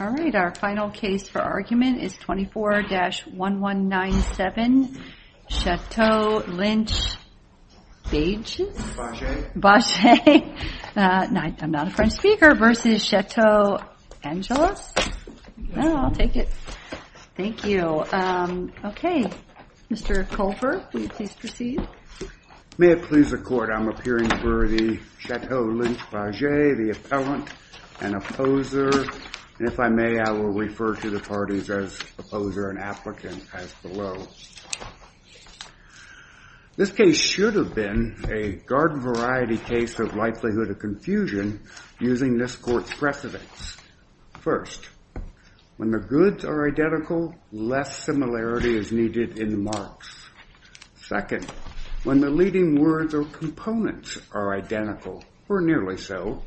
Our final case for argument is 24-1197, Chateau Lynch-Bages v. Chateau Angelus. Mr. Colfer, will you please proceed? May it please the Court, I am appearing for the Chateau Lynch-Bages, the Appellant and Opposer. And if I may, I will refer to the parties as Opposer and Applicant as below. This case should have been a garden-variety case of likelihood of confusion using this Court's precedence. First, when the goods are identical, less similarity is needed in the marks. Second, when the leading words or components are identical, or nearly so,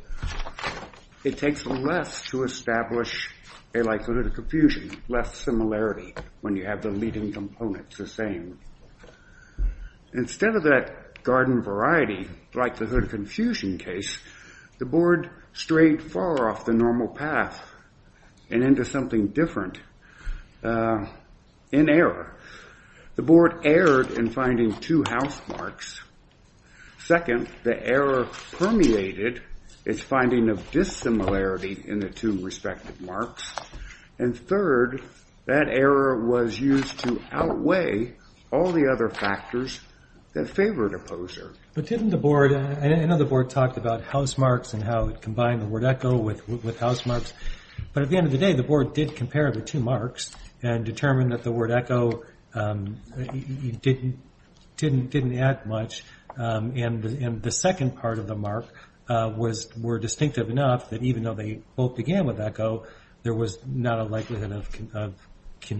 it takes less to establish a likelihood of confusion, less similarity when you have the leading components the same. Instead of that garden-variety likelihood of confusion case, the Board strayed far off the normal path and into something different in error. The Board permeated its finding of dissimilarity in the two respective marks. And third, that error was used to outweigh all the other factors that favored Opposer. But didn't the Board, I know the Board talked about house marks and how it combined the word echo with house marks, but at the end of the day, the Board did compare the two marks and determine that the word echo didn't add much. And the second part of the mark were distinctive enough that even though they both began with echo, there was not a likelihood of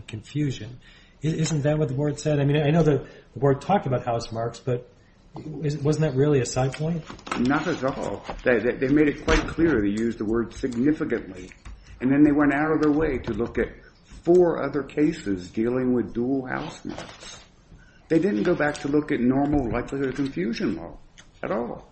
confusion. Isn't that what the Board said? I mean, I know the Board talked about house marks, but wasn't that really a side point? Not at all. They made it quite clear they used the word significantly. And then they went out of their way to look at four other cases dealing with dual house marks. They didn't go back to look at normal likelihood of confusion at all.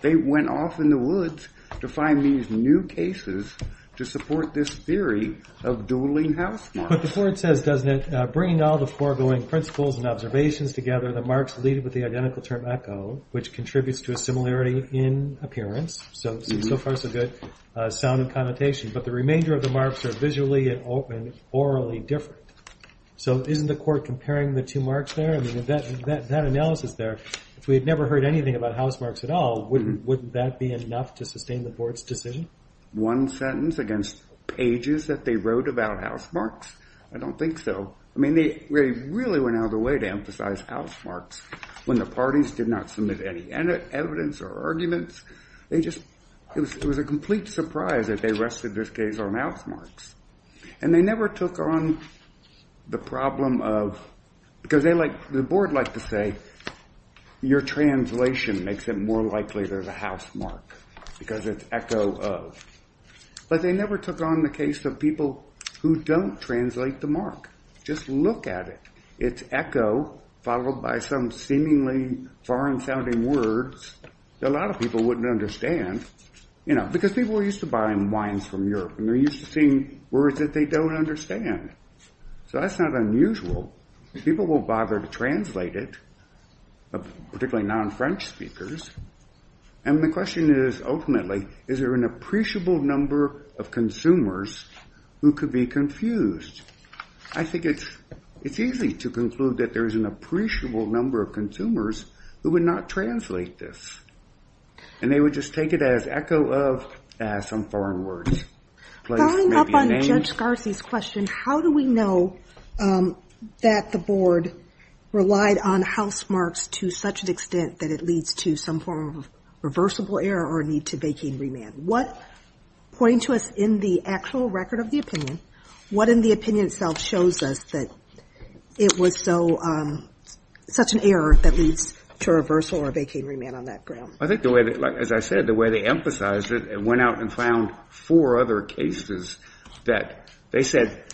They went off in the woods to find these new cases to support this theory of dueling house marks. But the Board says, doesn't it, bringing all the foregoing principles and observations together, the marks lead with the identical term echo, which contributes to a similarity in appearance. So far, so good. Sound and connotation. But the house marks are visually and orally different. So isn't the Court comparing the two marks there? I mean, that analysis there, if we had never heard anything about house marks at all, wouldn't that be enough to sustain the Board's decision? One sentence against pages that they wrote about house marks? I don't think so. I mean, they really went out of their way to emphasize house marks when the parties did not submit any evidence or arguments. It was a complete surprise that the rest of this case are house marks. And they never took on the problem of, because they like, the Board like to say, your translation makes it more likely there's a house mark because it's echo of. But they never took on the case of people who don't translate the mark. Just look at it. It's echo followed by some seemingly foreign sounding words that a lot of people wouldn't understand. Because people are used to buying wines from Europe, and they're used to seeing words that they don't understand. So that's not unusual. People won't bother to translate it, particularly non-French speakers. And the question is, ultimately, is there an appreciable number of consumers who could be confused? I think it's easy to conclude that there is an appreciable number of consumers who would not translate this. And they would just take it as echo of some foreign words. Following up on Judge Scarzi's question, how do we know that the Board relied on house marks to such an extent that it leads to some form of reversible error or need to vacate remand? What, pointing to us in the actual record of the opinion, what in the opinion shows us that it was such an error that leads to a reversal or a vacating remand on that ground? I think, as I said, the way they emphasized it, they went out and found four other cases that they said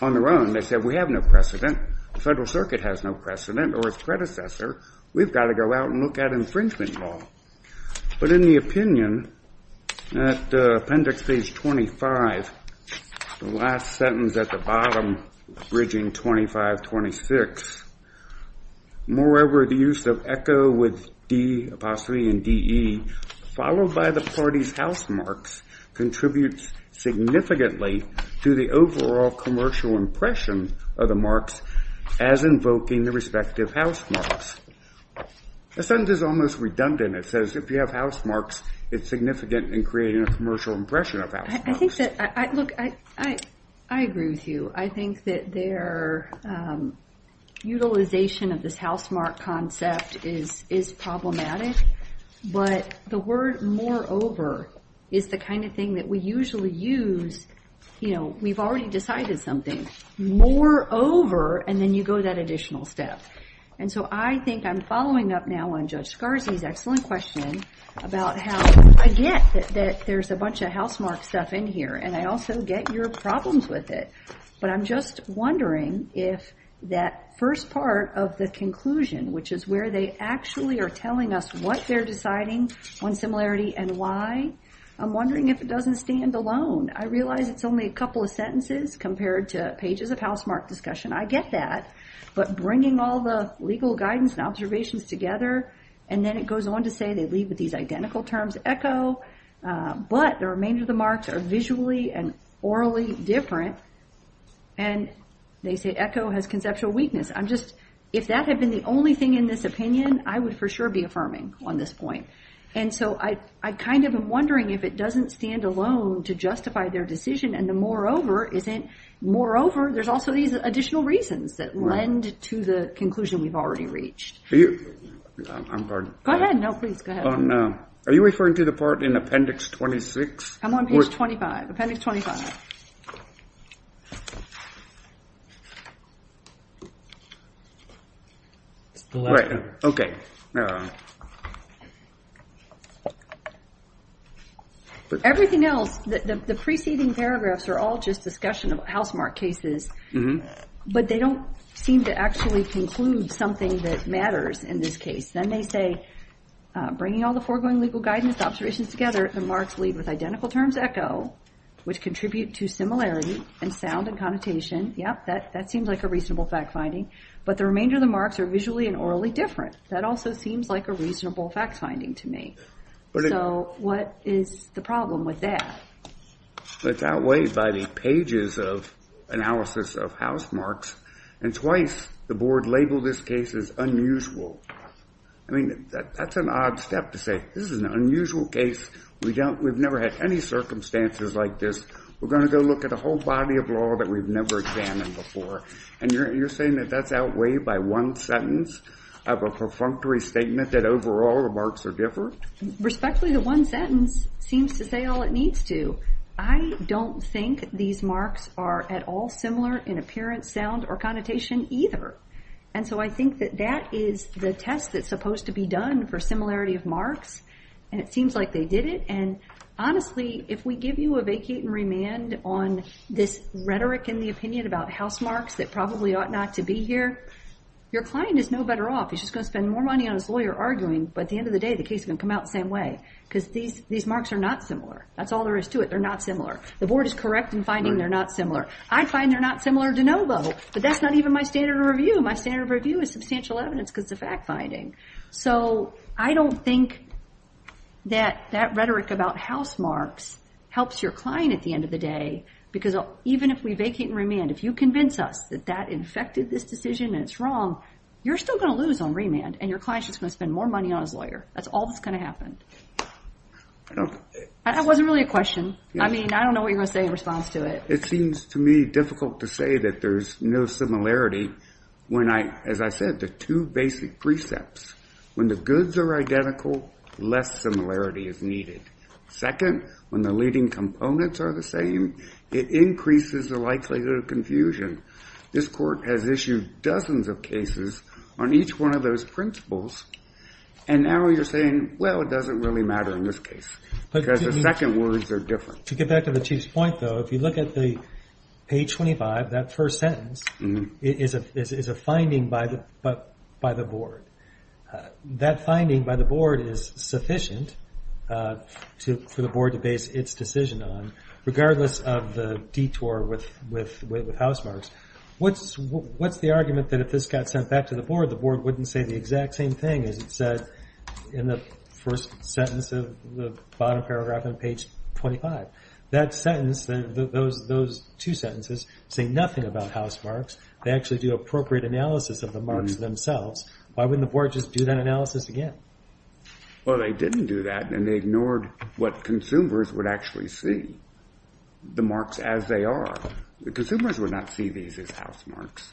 on their own, they said, we have no precedent. The Federal Circuit has no precedent, or its predecessor. We've got to go out and look at infringement law. But in the opinion, at appendix page 25, the last sentence at the bottom, bridging 25, 26, moreover, the use of echo with D apostrophe and DE, followed by the party's house marks, contributes significantly to the overall commercial impression of the marks as invoking the respective house marks. The sentence is almost redundant. It says, if you have house marks, it's significant in creating a commercial impression of house marks. I think that, look, I agree with you. I think that their utilization of this house mark concept is problematic. But the word moreover is the kind of thing that we usually use, you know, we've already decided something. Moreover, and then you go that additional step. And so, I think I'm following up now on Judge Garzi's excellent question about how I get that there's a bunch of house mark stuff in here, and I also get your problems with it. But I'm just wondering if that first part of the conclusion, which is where they actually are telling us what they're deciding on similarity and why, I'm wondering if it doesn't stand alone. I realize it's only a couple of sentences compared to pages of house mark discussion. I get that. But bringing all the legal guidance and observations together, and then it goes on to say they leave with these identical terms, echo, but the remainder of the marks are visually and orally different. And they say echo has conceptual weakness. I'm just, if that had been the only thing in this opinion, I would for sure be affirming on this point. And so, I kind of am wondering if it doesn't stand alone to justify their decision. And the moreover isn't, moreover, there's also these additional reasons that lend to the conclusion we've already reached. Go ahead. No, please. Go ahead. Oh, no. Are you referring to the part in appendix 26? I'm on page 25. Appendix 25. Everything else, the preceding paragraphs are all just discussion of house mark cases, but they don't seem to actually conclude something that matters in this case. Then they say, bringing all the foregoing legal guidance, observations together, the marks leave with identical terms, echo, which contribute to similarity and sound and connotation. Yep, that seems like a reasonable fact finding. But the remainder of the marks are visually and orally different. That also seems like a reasonable fact finding to me. So, what is the problem with that? It's outweighed by the pages of analysis of house marks. And twice the board labeled this case as unusual. I mean, that's an odd step to say, this is an unusual case. We've never had any circumstances like this. We're going to go look at a whole body of law that we've never examined before. And you're saying that that's outweighed by one sentence of a perfunctory statement that the marks are different? Respectfully, the one sentence seems to say all it needs to. I don't think these marks are at all similar in appearance, sound, or connotation either. And so I think that that is the test that's supposed to be done for similarity of marks. And it seems like they did it. And honestly, if we give you a vacate and remand on this rhetoric in the opinion about house marks that probably ought not to be here, your client is no better off. He's just going to spend more money on his lawyer arguing. But at the end of the day, the case is going to come out the same way. Because these marks are not similar. That's all there is to it. They're not similar. The board is correct in finding they're not similar. I find they're not similar de novo. But that's not even my standard of review. My standard of review is substantial evidence because it's a fact finding. So, I don't think that that rhetoric about house marks helps your client at the end of the day. Because even if we vacate and remand, if you convince us that that infected this decision and it's wrong, you're still going to lose on remand. And your client's just going to spend more money on his lawyer. That's all that's going to happen. That wasn't really a question. I mean, I don't know what you're going to say in response to it. It seems to me difficult to say that there's no similarity when I, as I said, the two basic precepts. When the goods are identical, less similarity is needed. Second, when the leading components are the same, it increases the likelihood of confusion. This court has issued dozens of cases on each one of those principles. And now you're saying, well, it doesn't really matter in this case. Because the second words are different. To get back to the Chief's point, though, if you look at the page 25, that first sentence is a finding by the board. That finding by the board is sufficient for the board to base its decision on, regardless of the detour with housemarks. What's the argument that if this got sent back to the board, the board wouldn't say the exact same thing as it said in the first sentence of the bottom paragraph on page 25? That sentence, those two sentences, say nothing about housemarks. They actually do appropriate analysis of the and they ignored what consumers would actually see, the marks as they are. The consumers would not see these as housemarks.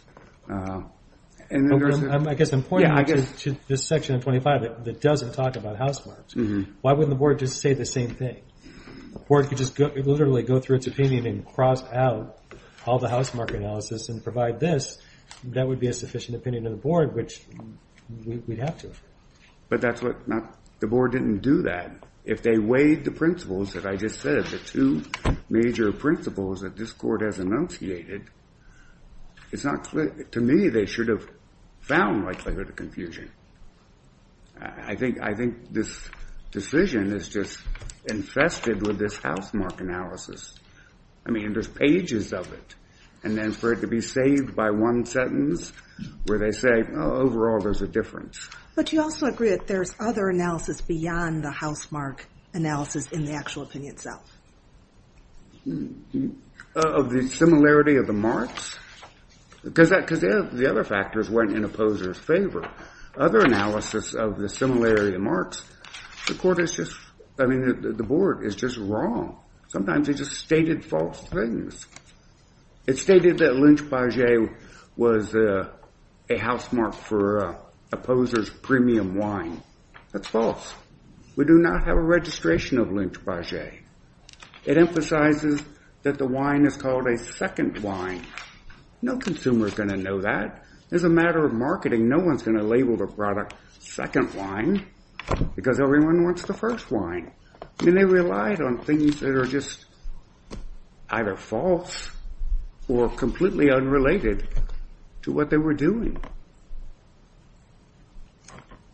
I guess I'm pointing to this section of 25 that doesn't talk about housemarks. Why wouldn't the board just say the same thing? Or it could just literally go through its opinion and cross out all the housemark analysis and provide this. That would be a sufficient opinion of the board, which we'd have to. But the board didn't do that. If they weighed the principles that I just said, the two major principles that this court has enunciated, to me, they should have found likelihood of confusion. I think this decision is just infested with this housemark analysis. I mean, there's pages of it. And then for it to be saved by one sentence, where they say, overall, there's a difference. But you also agree that there's other analysis beyond the housemark analysis in the actual opinion itself. Of the similarity of the marks? Because the other factors weren't in opposers' favor. Other analysis of the similarity of marks, the board is just wrong. Sometimes they just stated false things. It stated that Lynch-Baget was a housemark for opposers' premium wine. That's false. We do not have a registration of Lynch-Baget. It emphasizes that the wine is called a second wine. No consumer is going to know that. It's a matter of marketing. No one's going to label the product second wine, because everyone wants the first wine. And they relied on things that were just either false or completely unrelated to what they were doing.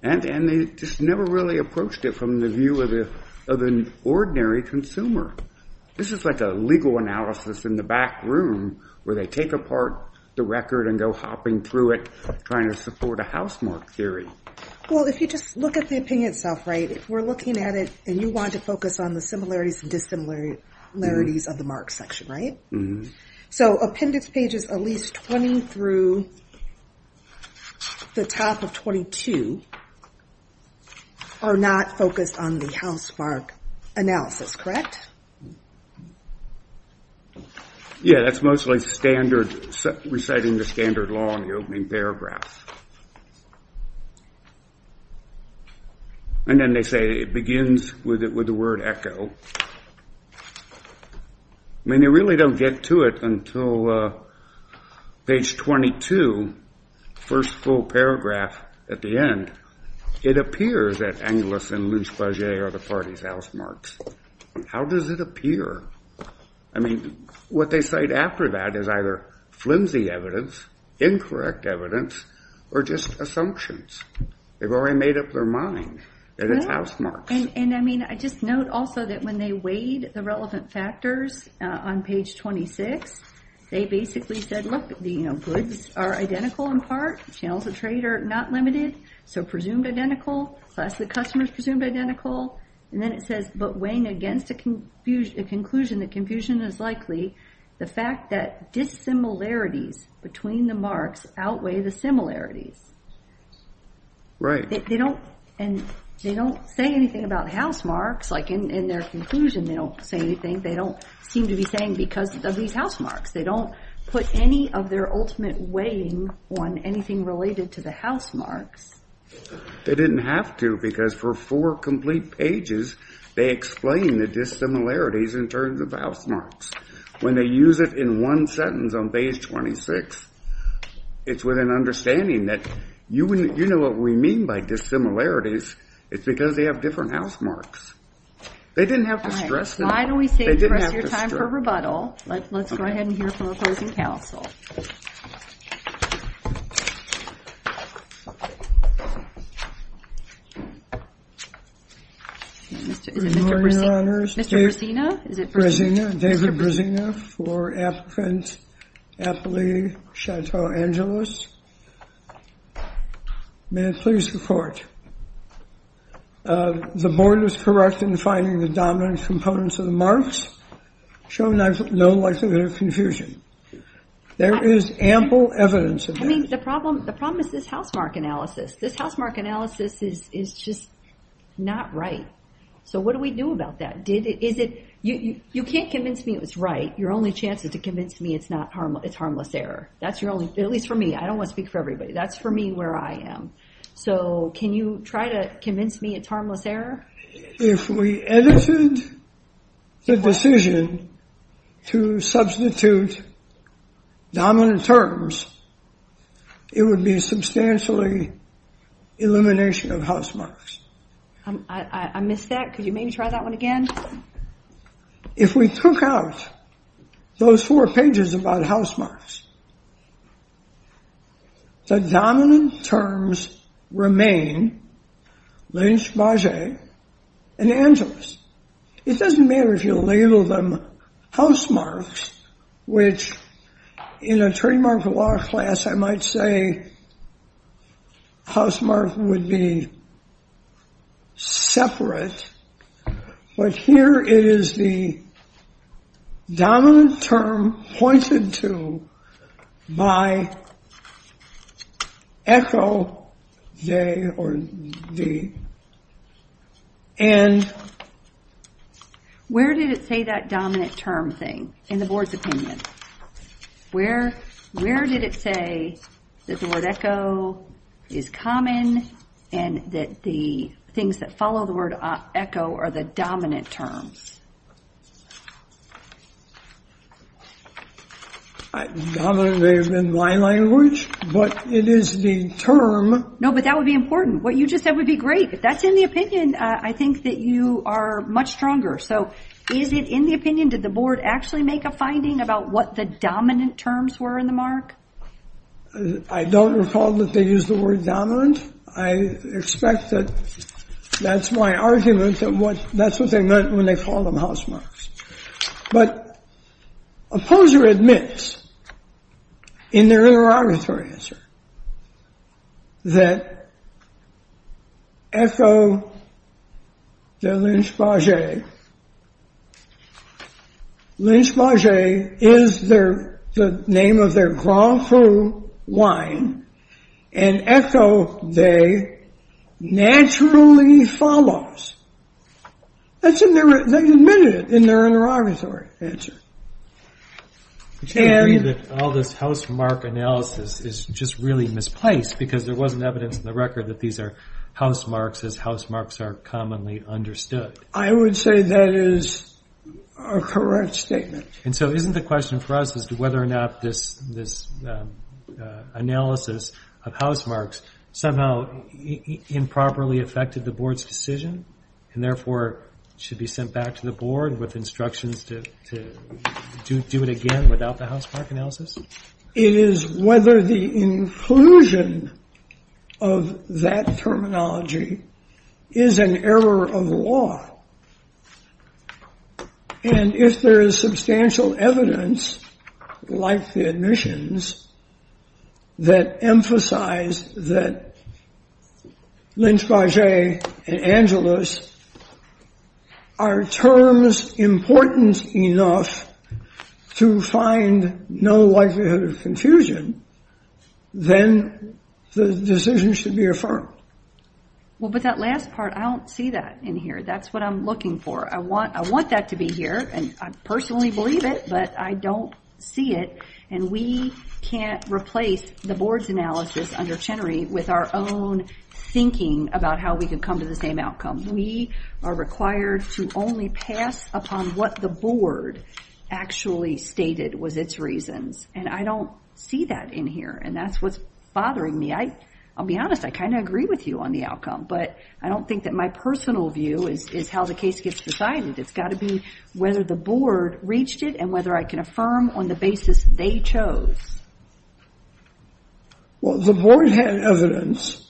And they just never really approached it from the view of an ordinary consumer. This is like a legal analysis in the back room, where they take apart the record and go hopping through it, trying to support a housemark theory. Well, if you just look at the opinion itself, right, if we're looking at it, and you want to focus on the similarities and dissimilarities of the marks section, right? So appendix pages at least 20 through the top of 22 are not focused on the housemark analysis, correct? Yeah, that's mostly standard, reciting the standard law in the opening paragraph. And then they say it begins with the word echo. I mean, they really don't get to it until page 22, first full paragraph at the end. It appears that Angelus and Lynch-Baget are the party's housemarks. How does it appear? I mean, what they cite after that is either flimsy evidence, incorrect evidence, or just assumptions. They've already made up their mind that it's housemarks. And I mean, I just note also that when they weighed the relevant factors on page 26, they basically said, look, the goods are identical in part, channels of trade are not limited, so presumed identical, class of customers presumed identical. And then it says, but weighing against a conclusion that confusion is likely, the fact that dissimilarities between the marks outweigh the similarities. They don't say anything about housemarks. Like in their conclusion, they don't say anything. They don't seem to be saying because of these housemarks. They don't put any of their ultimate weighing on anything related to the housemarks. They didn't have to, because for four complete pages, they explain the dissimilarities in terms of housemarks. When they use it in one sentence on page 26, it's with an understanding that you know what we mean by dissimilarities. It's because they have different housemarks. They didn't have to stress it. Why do we say press your time for rebuttal? Let's go ahead and hear from opposing counsel. Good morning, Your Honors. Mr. Brzezina? David Brzezina for Appellee Chateau Angeles. May I please report? The board is correct in finding the dominant components of the marks show no likelihood of confusion. There is ample evidence of that. I mean, the problem is this housemark analysis is just not right. What do we do about that? You can't convince me it was right. Your only chance is to convince me it's harmless error. At least for me. I don't want to speak for everybody. That's for me where I am. Can you try to convince me it's harmless error? If we edited the decision to substitute dominant terms, it would be substantially elimination of housemarks. I missed that. Could you maybe try that one again? If we took out those four pages about housemarks, the dominant terms remain Lynch, Bage, and Angeles. It doesn't matter if you label them housemarks, which in a trademark law class, I might say housemark would be separate. But here it is the dominant term pointed to by echo day or day. Where did it say that dominant term thing in the board's opinion? Where did it say that the word echo or the dominant terms? Dominant may have been my language, but it is the term. No, but that would be important. What you just said would be great. That's in the opinion. I think that you are much stronger. So is it in the opinion? Did the board actually make a finding about what the dominant terms were in the mark? I don't recall that they used the word dominant. I expect that that's my argument that that's what they meant when they called them housemarks. But Opposer admits in their interrogatory answer that echo the Lynch-Bage. Lynch-Bage is the name of their Grand Cru wine, and echo day naturally follows. That's in their, they admitted it in their interrogatory answer. Which I agree that all this housemark analysis is just really misplaced because there wasn't evidence in the record that these are housemarks as housemarks are commonly understood. I would say that is a correct statement. And so isn't the question for us as to whether or not this analysis of housemarks somehow improperly affected the board's decision and therefore should be sent back to the board with instructions to do it again without the housemark analysis? It is whether the inclusion of that terminology is an error of law. And if there is substantial evidence like the admissions that emphasize that Lynch-Bage and Angelus are terms important enough to find no likelihood of confusion, then the decision should be affirmed. Well, but that last part, I don't see that in here. That's what I'm looking for. I want that to be here, and I personally believe it, but I don't see it, and we can't replace the board's analysis under Chenery with our own thinking about how we can come to the same outcome. We are required to only pass upon what the board actually stated was its reasons, and I don't see that in here, and that's what's bothering me. I'll be honest, I kind of agree with you on the outcome, but I don't think that my personal view is how the case gets decided. It's got to be whether the board reached it and whether I can affirm on the basis they chose. Well, the board had evidence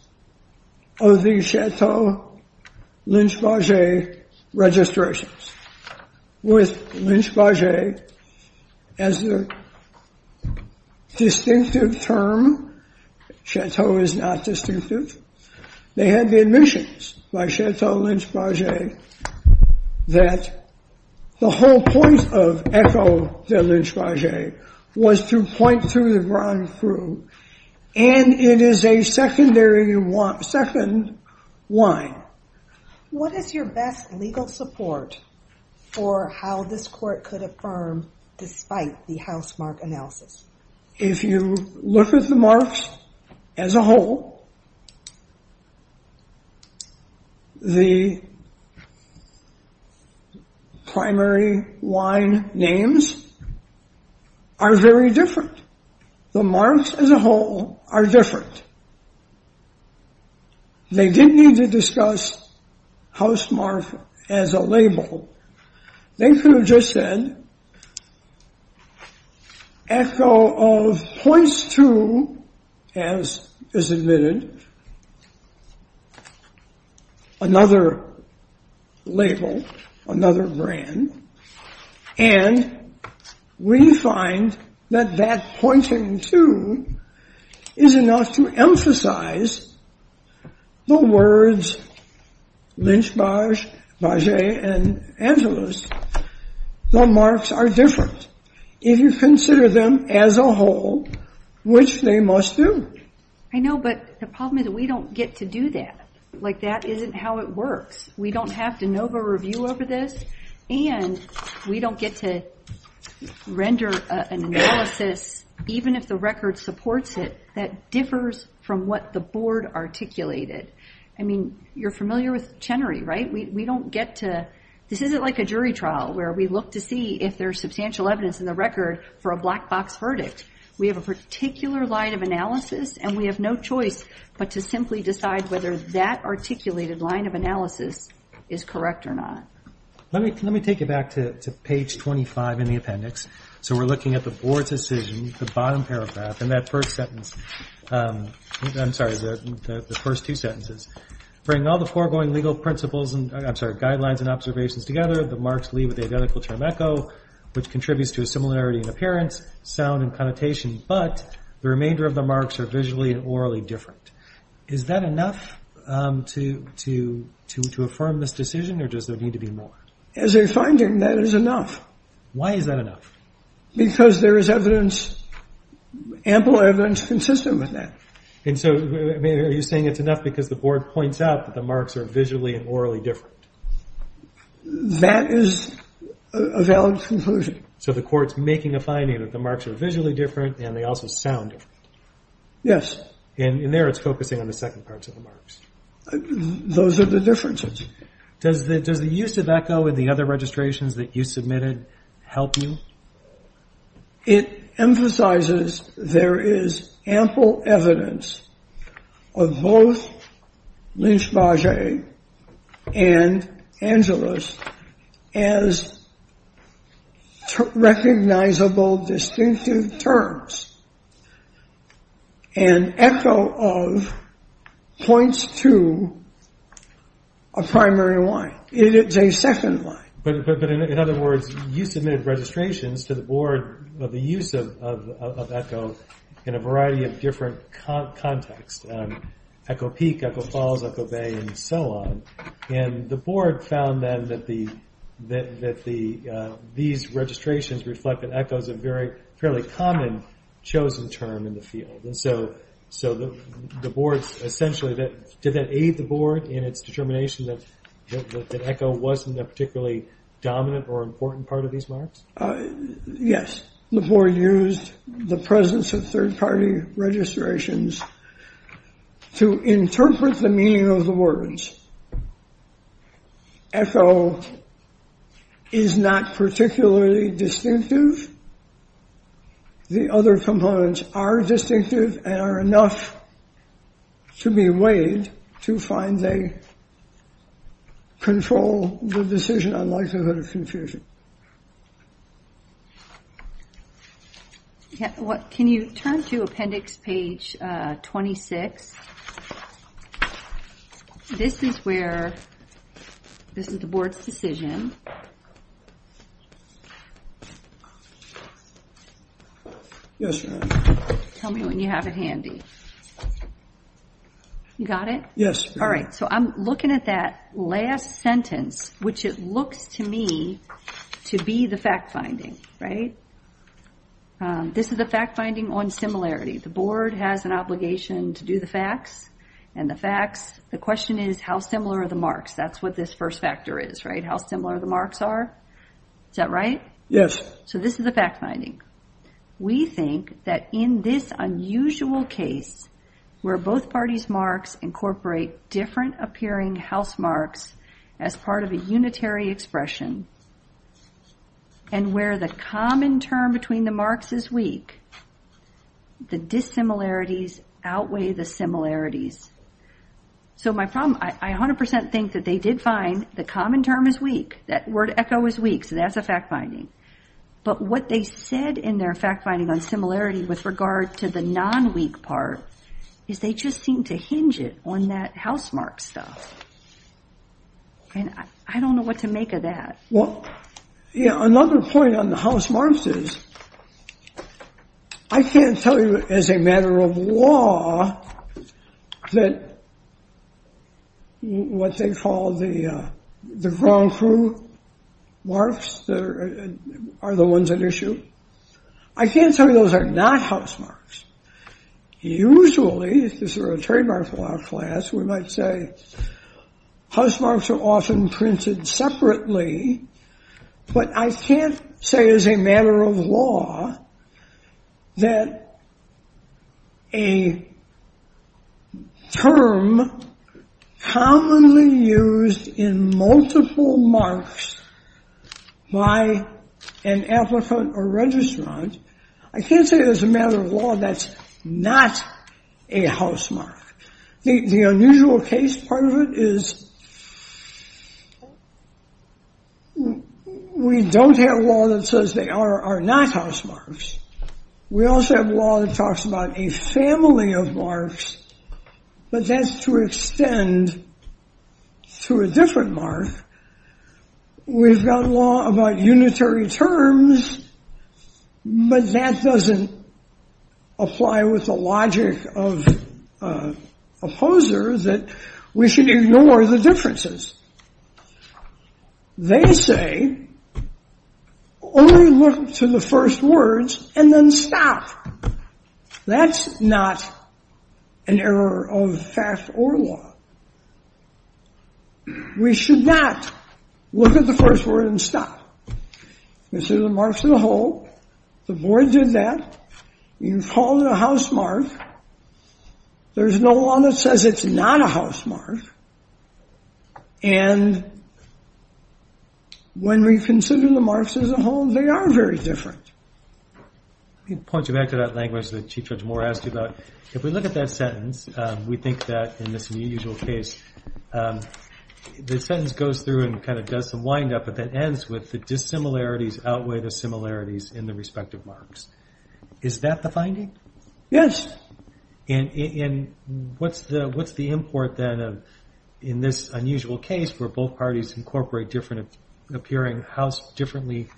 of the Chateau-Lynch-Bage registrations. With Lynch-Bage as the distinctive term, Chateau is not distinctive, they had the admissions by Chateau-Lynch-Bage that the whole point of ECHO the Lynch-Bage was to point through the ground through, and it is a secondary one, second one. What is your best legal support for how this court could affirm despite the housemark analysis? If you look at the marks as a whole, the primary line names are very different. The marks as a whole are different. They didn't need to discuss housemark as a label. They could have just said ECHO of points to, as is admitted, another label, another brand, and we find that that pointing to is enough to emphasize the words Lynch-Bage and Angelus. The marks are different if you consider them as a whole, which they must do. I know, but the problem is we don't get to do that, like that isn't how it works. We don't have to know the review over this, and we don't get to render an analysis, even if the record supports it, that differs from what the board articulated. You're familiar with Chenery, right? This isn't like a jury trial where we look to see if there's substantial evidence in the record for a black box verdict. We have a particular line of analysis, and we have no choice but to simply decide whether that articulated line of analysis is correct or not. Let me take you back to page 25 in the appendix. We're looking at the board's decision, the bottom paragraph, and that first sentence. I'm sorry, the first two sentences. Bring all the foregoing legal principles, I'm sorry, guidelines and observations together. The marks leave with the identical term ECHO, which contributes to a similarity in appearance, sound and connotation, but the remainder of the marks are visually and orally different. Is that enough to affirm this decision, or does there need to be more? As a finding, that is enough. Why is that enough? Because there is evidence, ample evidence, consistent with that. And so are you saying it's enough because the board points out that the marks are visually and orally different? That is a valid conclusion. So the court's making a finding that the marks are visually different, and they also sound different. Yes. And in there, it's focusing on the second part of the marks. Those are the differences. Does the use of ECHO in the other registrations that you submitted help you? It emphasizes there is ample evidence of both Lynch-Baget and Angeles as recognizable, distinctive terms. And ECHO of points to a primary line. It is a second line. But in other words, you submitted registrations to the board of the use of ECHO in a variety of different contexts. ECHO Peak, ECHO Falls, ECHO Bay, and so on. And the board found then that these registrations reflect that ECHO is a fairly common chosen term in the field. And so did that aid the board in its determination that ECHO wasn't a particularly dominant or important part of these marks? Yes. The board used the presence of third party registrations to interpret the meaning of the words. ECHO is not particularly distinctive. The other components are distinctive and are enough to be weighed to find they control the decision on likelihood of confusion. Can you turn to appendix page 26? This is where, this is the board's decision. Yes, ma'am. Tell me when you have it handy. You got it? Yes. All right. So I'm looking at that last sentence, which it looks to me to be the fact finding, right? This is a fact finding on similarity. The board has an obligation to do the facts and the facts. The question is, how similar are the marks? That's what this first factor is, right? How similar the marks are. Is that right? Yes. So this is the fact finding. We think that in this unusual case where both parties' marks incorporate different appearing house marks as part of a unitary expression and where the common term between the marks is weak, the dissimilarities outweigh the similarities. So my problem, I 100% think that they did find the common term is weak. That word ECHO is weak. So that's a fact finding. But what they said in their fact finding on similarity with regard to the non-weak part is they just seem to hinge it on that house mark stuff. And I don't know what to make of that. Well, another point on the house marks is I can't tell you as a matter of law that what they call the Grand Cru marks are the ones at issue. I can't tell you those are not house marks. Usually, if this were a trademark law class, we might say house marks are often printed separately. But I can't say as a matter of law that a term commonly used in multiple marks by an applicant or registrant, I can't say as a matter of law that's not a house mark. The unusual case part of it is we don't have law that says they are not house marks. We also have law that talks about a family of marks, but that's to extend to a different mark. We've got law about unitary terms, but that doesn't apply with the logic of opposers that we should ignore the differences. They say only look to the first words and then stop. That's not an error of fact or law. We should not look at the first word and stop. This is the marks of the whole. The board did that. You call it a house mark. There's no law that says it's not a house mark. And when we consider the marks as a whole, they are very different. Let me point you back to that language that Chief Judge Moore asked you about. If we look at that sentence, we think that in this unusual case, the sentence goes through and kind of does some wind up, but that ends with the dissimilarities outweigh the similarities in the respective marks. Is that the finding? Yes. And what's the import then in this unusual case where both parties incorporate different appearing house marks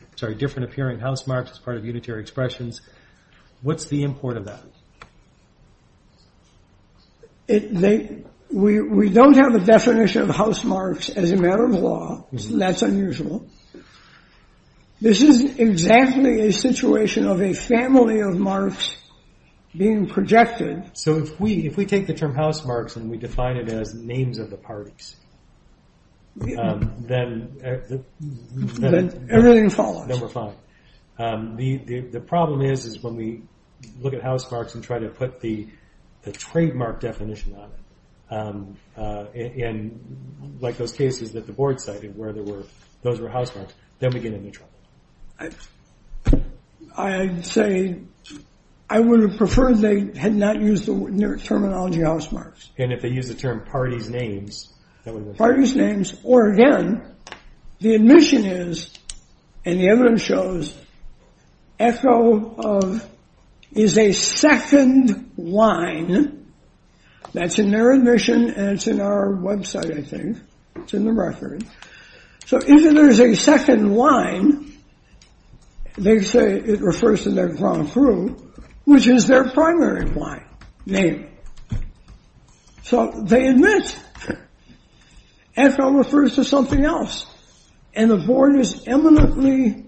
as part of unitary expressions? What's the import of that? We don't have a definition of house marks as a matter of law. That's unusual. This is exactly a situation of a family of marks being projected. So if we take the term house marks and we define it as names of the parties, then everything follows. Then we're fine. The problem is when we look at house marks and try to put the trademark definition on it. And like those cases that the board cited where those were house marks, then we get into trouble. I'd say I would have preferred they had not used the terminology house marks. And if they use the term party's names, that would be fine. Party's names or again, the admission is, and the evidence shows, echo is a second line that's in their admission. And it's in our website, I think. It's in the record. So if there's a second line, they say it refers to their ground crew, which is their primary line name. So they admit echo refers to something else. And the board is eminently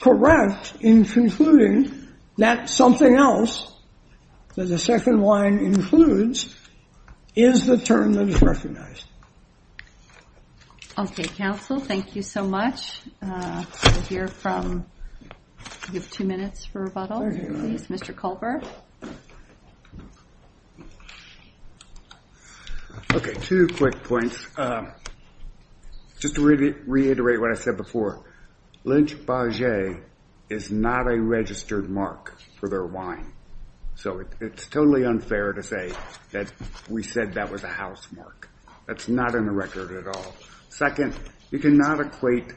correct in concluding that something else that the second line includes is the term that is recognized. OK, counsel. Thank you so much. We'll hear from, you have two minutes for rebuttal, please. Mr. Culver. OK, two quick points. Just to reiterate what I said before, Lynch-Baget is not a registered mark for their wine. So it's totally unfair to say that we said that was a house mark. That's not in the record at all. Second, you cannot equate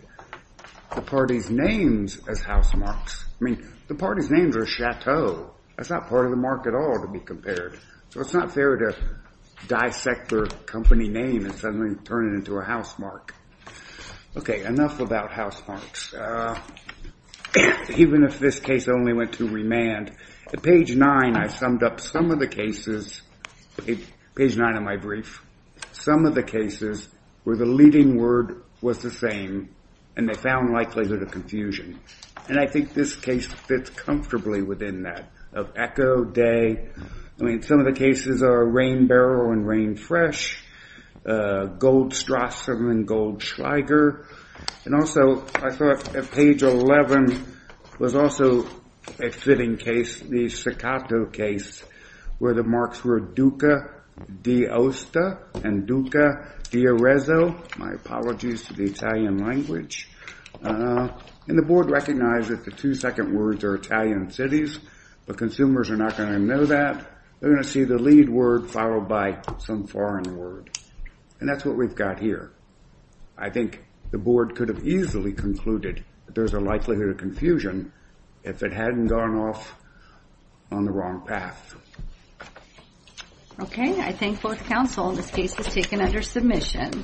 the party's names as house marks. I mean, the party's names are Chateau. That's not part of the mark at all to be compared. So it's not fair to dissect their company name and suddenly turn it into a house mark. OK, enough about house marks. Even if this case only went to remand, at page 9, I summed up some of the cases, page 9 of my brief, some of the cases where the leading word was the same and they found likelihood of confusion. And I think this case fits comfortably within that of echo, day. I mean, some of the cases are rain barrel and rain fresh, a gold strassum and gold schweiger. And also, I thought at page 11 was also a fitting case, the Sacato case, where the marks were Duca d'Aosta and Duca d'Arezzo. My apologies to the Italian language. And the board recognized that the two second words are Italian cities, but consumers are not going to know that. They're going to see the lead word followed by some foreign word. And that's what we've got here. I think the board could have easily concluded that there's a likelihood of confusion if it hadn't gone off on the wrong path. OK, I thank both counsel. This case is taken under submission.